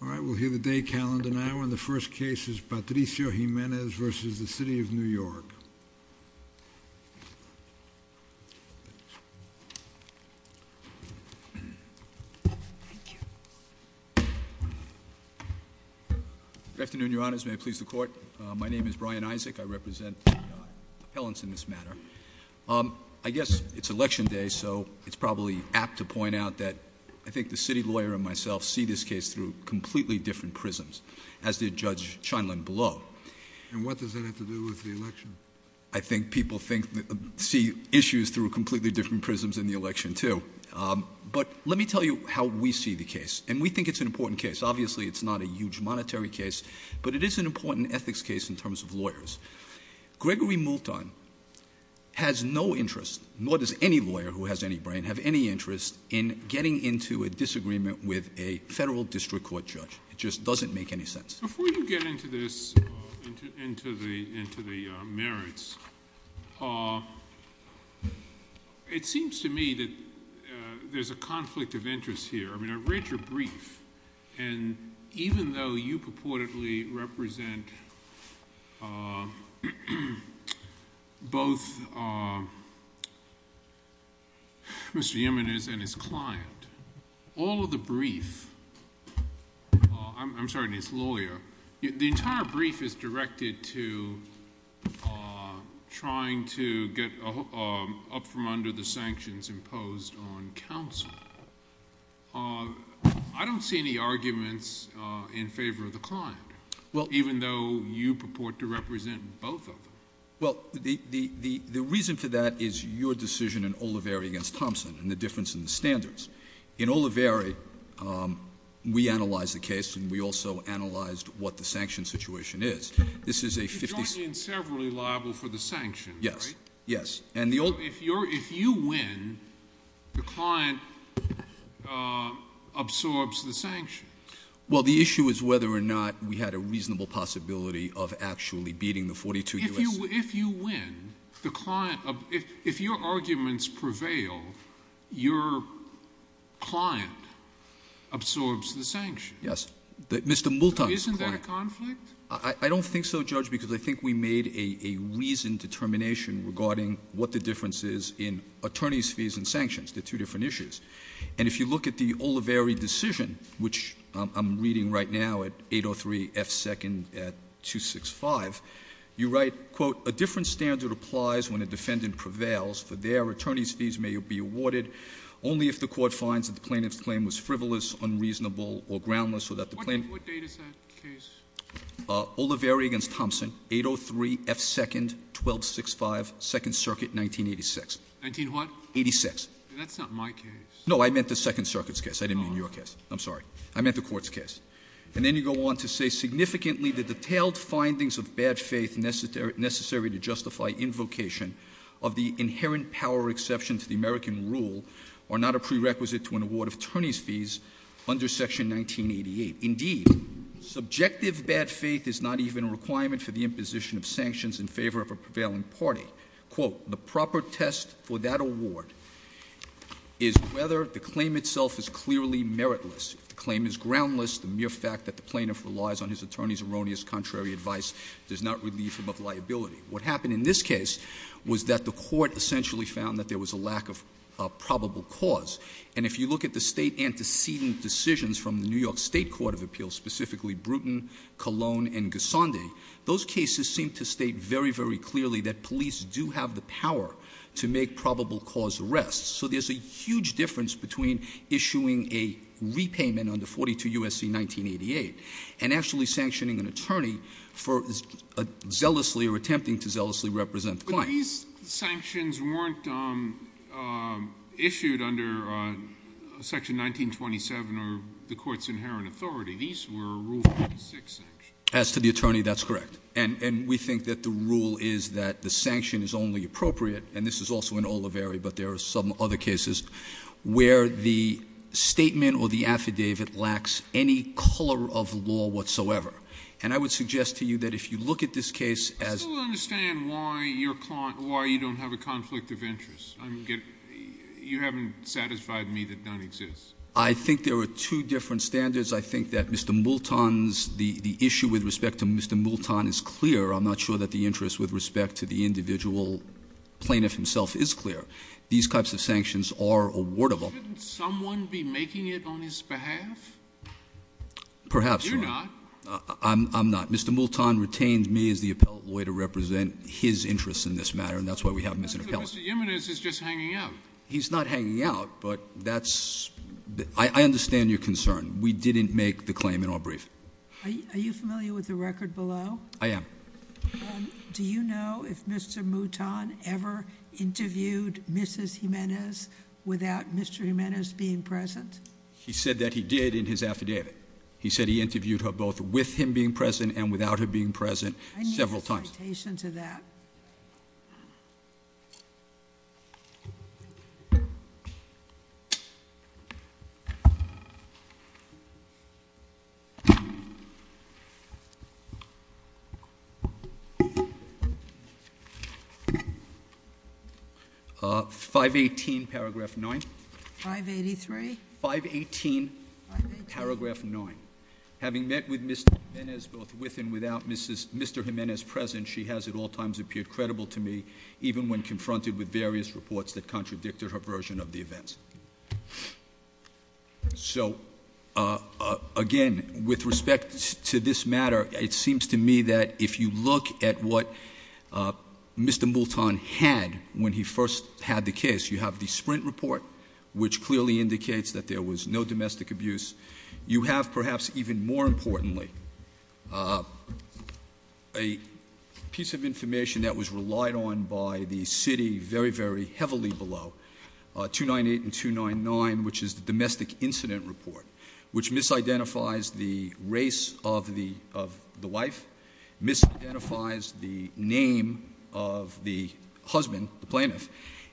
All right, we'll hear the day calendar now. And the first case is Patricio Jimenez v. The City of New York. Thank you. Good afternoon, Your Honors. May I please the Court? My name is Brian Isaac. I represent the appellants in this matter. I guess it's election day, so it's probably apt to point out that I think the city lawyer and myself see this case through completely different prisms, as did Judge Scheindlin below. And what does that have to do with the election? I think people see issues through completely different prisms in the election, too. But let me tell you how we see the case, and we think it's an important case. Obviously, it's not a huge monetary case, but it is an important ethics case in terms of lawyers. Gregory Multon has no interest, nor does any lawyer who has any brain, have any interest in getting into a disagreement with a federal district court judge. It just doesn't make any sense. Before you get into this, into the merits, it seems to me that there's a conflict of interest here. I read your brief, and even though you purportedly represent both Mr. Jimenez and his client, all of the brief—I'm sorry, his lawyer—the entire brief is directed to trying to get up from under the sanctions imposed on counsel. I don't see any arguments in favor of the client, even though you purport to represent both of them. Well, the reason for that is your decision in Oliveri v. Thompson and the difference in the standards. In Oliveri, we analyzed the case, and we also analyzed what the sanction situation is. This is a 50— You're drawing in several liable for the sanctions, right? Yes, yes. If you win, the client absorbs the sanctions. Well, the issue is whether or not we had a reasonable possibility of actually beating the 42 U.S.— If you win, the client—if your arguments prevail, your client absorbs the sanctions. Yes. Mr. Multon's client— Isn't that a conflict? I don't think so, Judge, because I think we made a reasoned determination regarding what the difference is in attorneys' fees and sanctions. They're two different issues. And if you look at the Oliveri decision, which I'm reading right now at 803 F. 2nd at 265, you write, quote, What date is that case? Oliveri v. Thompson, 803 F. 2nd, 1265, Second Circuit, 1986. 19 what? 86. That's not my case. No, I meant the Second Circuit's case. I didn't mean your case. I'm sorry. I meant the Court's case. And then you go on to say, Significantly, the detailed findings of bad faith necessary to justify invocation of the inherent power exception to the American rule are not a prerequisite to an award of attorneys' fees under Section 1988. Indeed, subjective bad faith is not even a requirement for the imposition of sanctions in favor of a prevailing party. Quote, The proper test for that award is whether the claim itself is clearly meritless. If the claim is groundless, the mere fact that the plaintiff relies on his attorney's erroneous contrary advice does not relieve him of liability. What happened in this case was that the Court essentially found that there was a lack of probable cause. And if you look at the State antecedent decisions from the New York State Court of Appeals, specifically Bruton, Cologne, and Gisonde, those cases seem to state very, very clearly that police do have the power to make probable cause arrests. So there's a huge difference between issuing a repayment under 42 U.S.C. 1988 and actually sanctioning an attorney for zealously or attempting to zealously represent the client. These sanctions weren't issued under Section 1927 or the Court's inherent authority. These were Rule 46 sanctions. As to the attorney, that's correct. And we think that the rule is that the sanction is only appropriate, and this is also in Oliveri but there are some other cases, where the statement or the affidavit lacks any color of law whatsoever. And I would suggest to you that if you look at this case as I still don't understand why you don't have a conflict of interest. You haven't satisfied me that none exists. I think there are two different standards. I think that Mr. Multon's, the issue with respect to Mr. Multon is clear. I'm not sure that the interest with respect to the individual plaintiff himself is clear. These types of sanctions are awardable. Shouldn't someone be making it on his behalf? Perhaps not. You're not. I'm not. Mr. Multon retained me as the appellate lawyer to represent his interests in this matter, and that's why we have missing appellants. But Mr. Jimenez is just hanging out. He's not hanging out, but that's, I understand your concern. We didn't make the claim in our brief. Are you familiar with the record below? I am. Do you know if Mr. Multon ever interviewed Mrs. Jimenez without Mr. Jimenez being present? He said that he did in his affidavit. He said he interviewed her both with him being present and without her being present several times. I need the citation to that. 518 paragraph 9. 583? 518 paragraph 9. Having met with Mr. Jimenez both with and without Mr. Jimenez present, she has at all times appeared credible to me, even when confronted with various reports that contradicted her version of the events. So, again, with respect to this matter, it seems to me that if you look at what Mr. Multon had when he first had the case, you have the Sprint report, which clearly indicates that there was no domestic abuse. You have, perhaps even more importantly, a piece of information that was relied on by the city very, very heavily below, 298 and 299, which is the domestic incident report, which misidentifies the race of the wife, misidentifies the name of the husband, the plaintiff,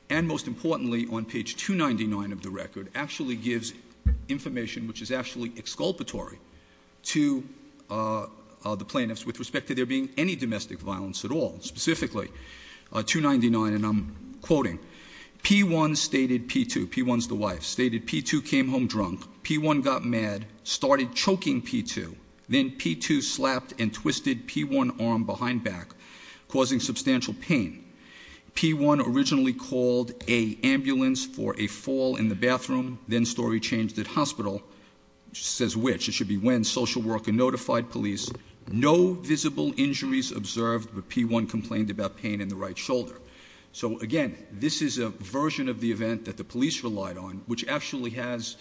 and most importantly, on page 299 of the record, actually gives information which is actually exculpatory to the plaintiffs with respect to there being any domestic violence at all. Specifically, 299, and I'm quoting, P1 stated P2, P1's the wife, stated P2 came home drunk, P1 got mad, started choking P2, then P2 slapped and twisted P1 arm behind back, causing substantial pain. P1 originally called an ambulance for a fall in the bathroom, then story changed at hospital, says which, it should be when social worker notified police, no visible injuries observed, but P1 complained about pain in the right shoulder. So again, this is a version of the event that the police relied on, which actually has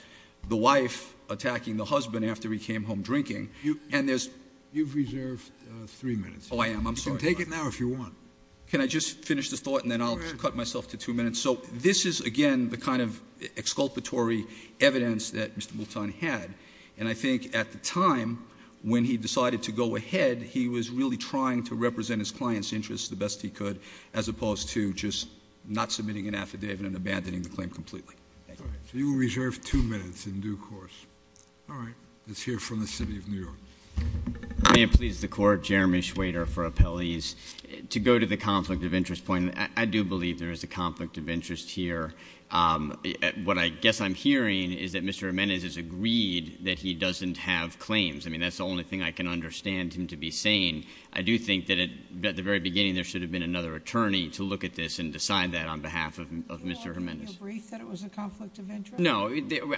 the wife attacking the husband after he came home drinking, and there's- You've reserved three minutes. Oh, I am, I'm sorry. You can take it now if you want. Can I just finish this thought and then I'll cut myself to two minutes? So this is, again, the kind of exculpatory evidence that Mr. Moulton had, and I think at the time when he decided to go ahead, he was really trying to represent his client's interests the best he could, as opposed to just not submitting an affidavit and abandoning the claim completely. Thank you. So you will reserve two minutes in due course. All right. Let's hear from the city of New York. May it please the court, Jeremy Schwader for appellees. To go to the conflict of interest point, I do believe there is a conflict of interest here. What I guess I'm hearing is that Mr. Jimenez has agreed that he doesn't have claims. I mean, that's the only thing I can understand him to be saying. I do think that at the very beginning there should have been another attorney to look at this and decide that on behalf of Mr. Jimenez. Do you believe that it was a conflict of interest? No,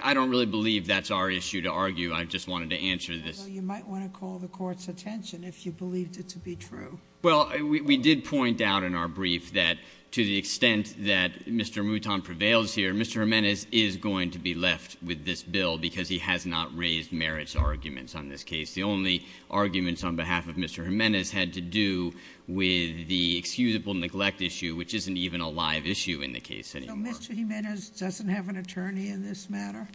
I don't really believe that's our issue to argue. I just wanted to answer this. Well, you might want to call the court's attention if you believed it to be true. Well, we did point out in our brief that to the extent that Mr. Mouton prevails here, Mr. Jimenez is going to be left with this bill because he has not raised merits arguments on this case. The only arguments on behalf of Mr. Jimenez had to do with the excusable neglect issue, which isn't even a live issue in the case anymore. So Mr. Jimenez doesn't have an attorney in this matter?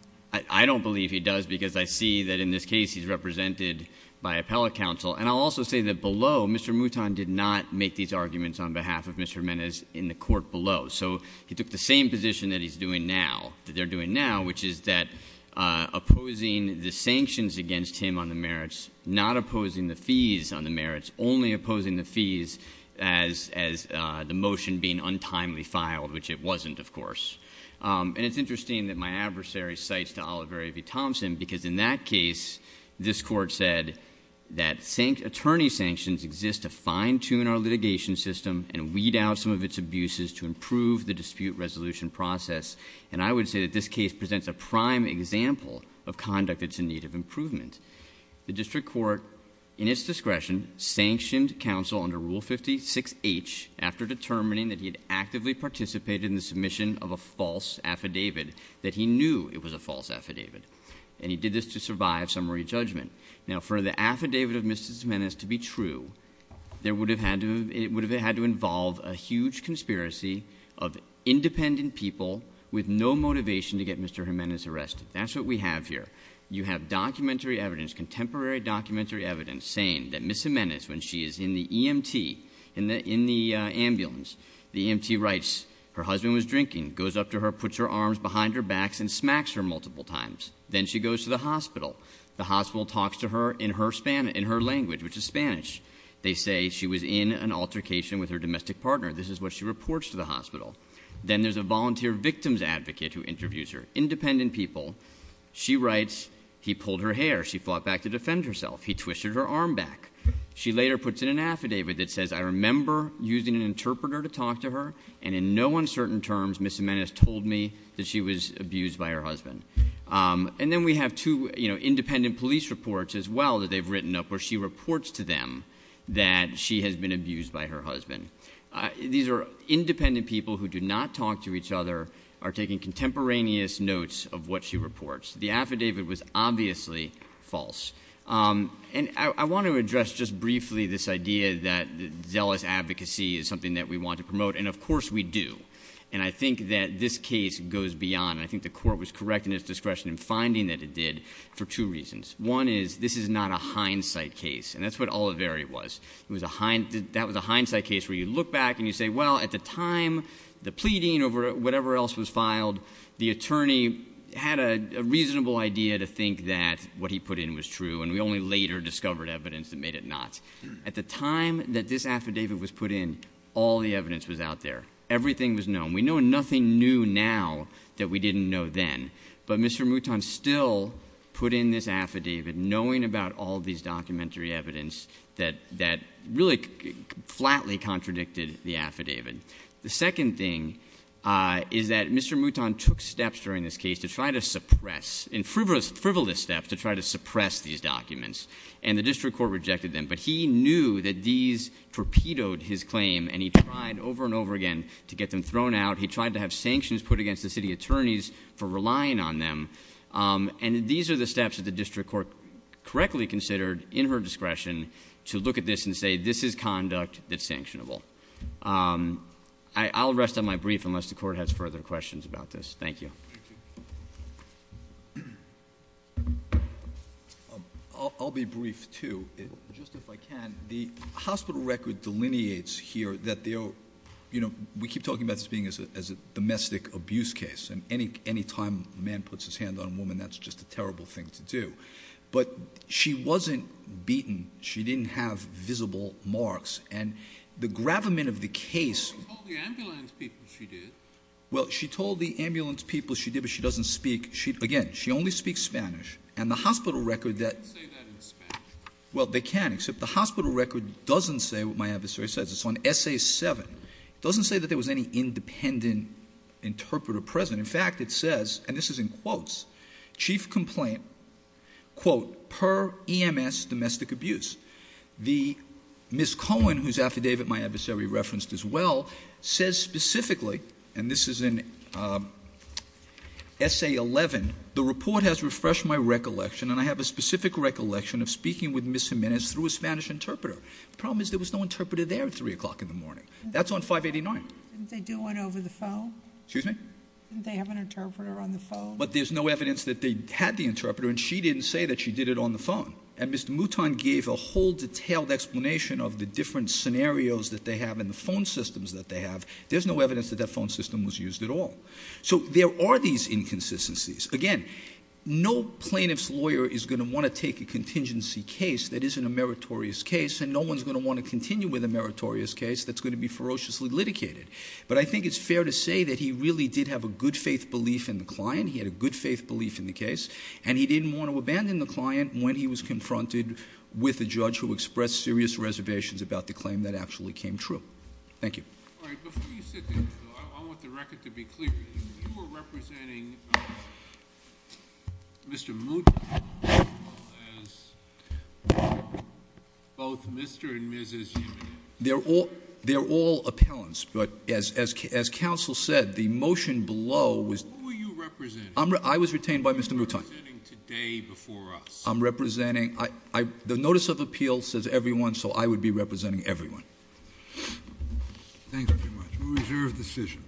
I don't believe he does because I see that in this case he's represented by appellate counsel. And I'll also say that below, Mr. Mouton did not make these arguments on behalf of Mr. Jimenez in the court below. So he took the same position that he's doing now, that they're doing now, which is that opposing the sanctions against him on the merits, not opposing the fees on the merits, only opposing the fees as the motion being untimely filed, which it wasn't, of course. And it's interesting that my adversary cites to Oliver A. Thompson because in that case, this court said that attorney sanctions exist to fine tune our litigation system and weed out some of its abuses to improve the dispute resolution process. And I would say that this case presents a prime example of conduct that's in need of improvement. The district court, in its discretion, sanctioned counsel under Rule 56H after determining that he had actively participated in the submission of a false affidavit, that he knew it was a false affidavit. And he did this to survive summary judgment. Now for the affidavit of Mrs. Jimenez to be true, it would have had to involve a huge conspiracy of independent people with no motivation to get Mr. Jimenez arrested. That's what we have here. You have documentary evidence, contemporary documentary evidence, saying that Ms. Jimenez, when she is in the EMT, in the ambulance, the EMT writes, her husband was drinking, goes up to her, puts her arms behind her backs, and smacks her multiple times. Then she goes to the hospital. The hospital talks to her in her language, which is Spanish. They say she was in an altercation with her domestic partner. This is what she reports to the hospital. Then there's a volunteer victim's advocate who interviews her. Independent people. She writes, he pulled her hair. She fought back to defend herself. He twisted her arm back. She later puts in an affidavit that says, I remember using an interpreter to talk to her. And in no uncertain terms, Ms. Jimenez told me that she was abused by her husband. And then we have two independent police reports as well that they've written up where she reports to them that she has been abused by her husband. These are independent people who do not talk to each other, are taking contemporaneous notes of what she reports. The affidavit was obviously false. And I want to address just briefly this idea that zealous advocacy is something that we want to promote, and of course we do. And I think that this case goes beyond. And I think the court was correct in its discretion in finding that it did for two reasons. One is, this is not a hindsight case, and that's what Oliveri was. That was a hindsight case where you look back and you say, well, at the time, the pleading over whatever else was filed, the attorney had a reasonable idea to think that what he put in was true, and we only later discovered evidence that made it not. At the time that this affidavit was put in, all the evidence was out there. Everything was known. We know nothing new now that we didn't know then. But Mr. Mouton still put in this affidavit, knowing about all these documentary evidence, that really flatly contradicted the affidavit. The second thing is that Mr. Mouton took steps during this case to try to suppress, in frivolous steps, to try to suppress these documents, and the district court rejected them. But he knew that these torpedoed his claim, and he tried over and over again to get them thrown out. He tried to have sanctions put against the city attorneys for relying on them. And these are the steps that the district court correctly considered in her discretion to look at this and say, this is conduct that's sanctionable. I'll rest on my brief unless the court has further questions about this. Thank you. Thank you. I'll be brief too, just if I can. The hospital record delineates here that we keep talking about this being as a domestic abuse case. And any time a man puts his hand on a woman, that's just a terrible thing to do. But she wasn't beaten. She didn't have visible marks. And the gravamen of the case- She told the ambulance people she did. Well, she told the ambulance people she did, but she doesn't speak, again, she only speaks Spanish. And the hospital record that- They can't say that in Spanish. Well, they can, except the hospital record doesn't say what my adversary says. It's on essay seven. It doesn't say that there was any independent interpreter present. In fact, it says, and this is in quotes, chief complaint, quote, per EMS domestic abuse. The Ms. Cohen, whose affidavit my adversary referenced as well, says specifically, and this is in essay 11, the report has refreshed my recollection, and I have a specific recollection of speaking with Ms. Jimenez through a Spanish interpreter. Problem is, there was no interpreter there at 3 o'clock in the morning. That's on 589. Didn't they do one over the phone? Excuse me? Didn't they have an interpreter on the phone? But there's no evidence that they had the interpreter, and she didn't say that she did it on the phone. And Mr. Mouton gave a whole detailed explanation of the different scenarios that they have in the phone systems that they have. There's no evidence that that phone system was used at all. So there are these inconsistencies. Again, no plaintiff's lawyer is going to want to take a contingency case that isn't a meritorious case, and no one's going to want to continue with a meritorious case that's going to be ferociously litigated. But I think it's fair to say that he really did have a good faith belief in the client. He had a good faith belief in the case, and he didn't want to abandon the client when he was confronted with a judge who expressed serious reservations about the claim that actually came true. Thank you. All right, before you sit there, I want the record to be clear. You were representing Mr. Mouton as both Mr. and Mrs. Jimenez. They're all appellants, but as counsel said, the motion below was- Who were you representing? I was retained by Mr. Mouton. You were representing today before us. I'm representing, the notice of appeal says everyone, so I would be representing everyone. Thank you very much. We'll reserve the decision.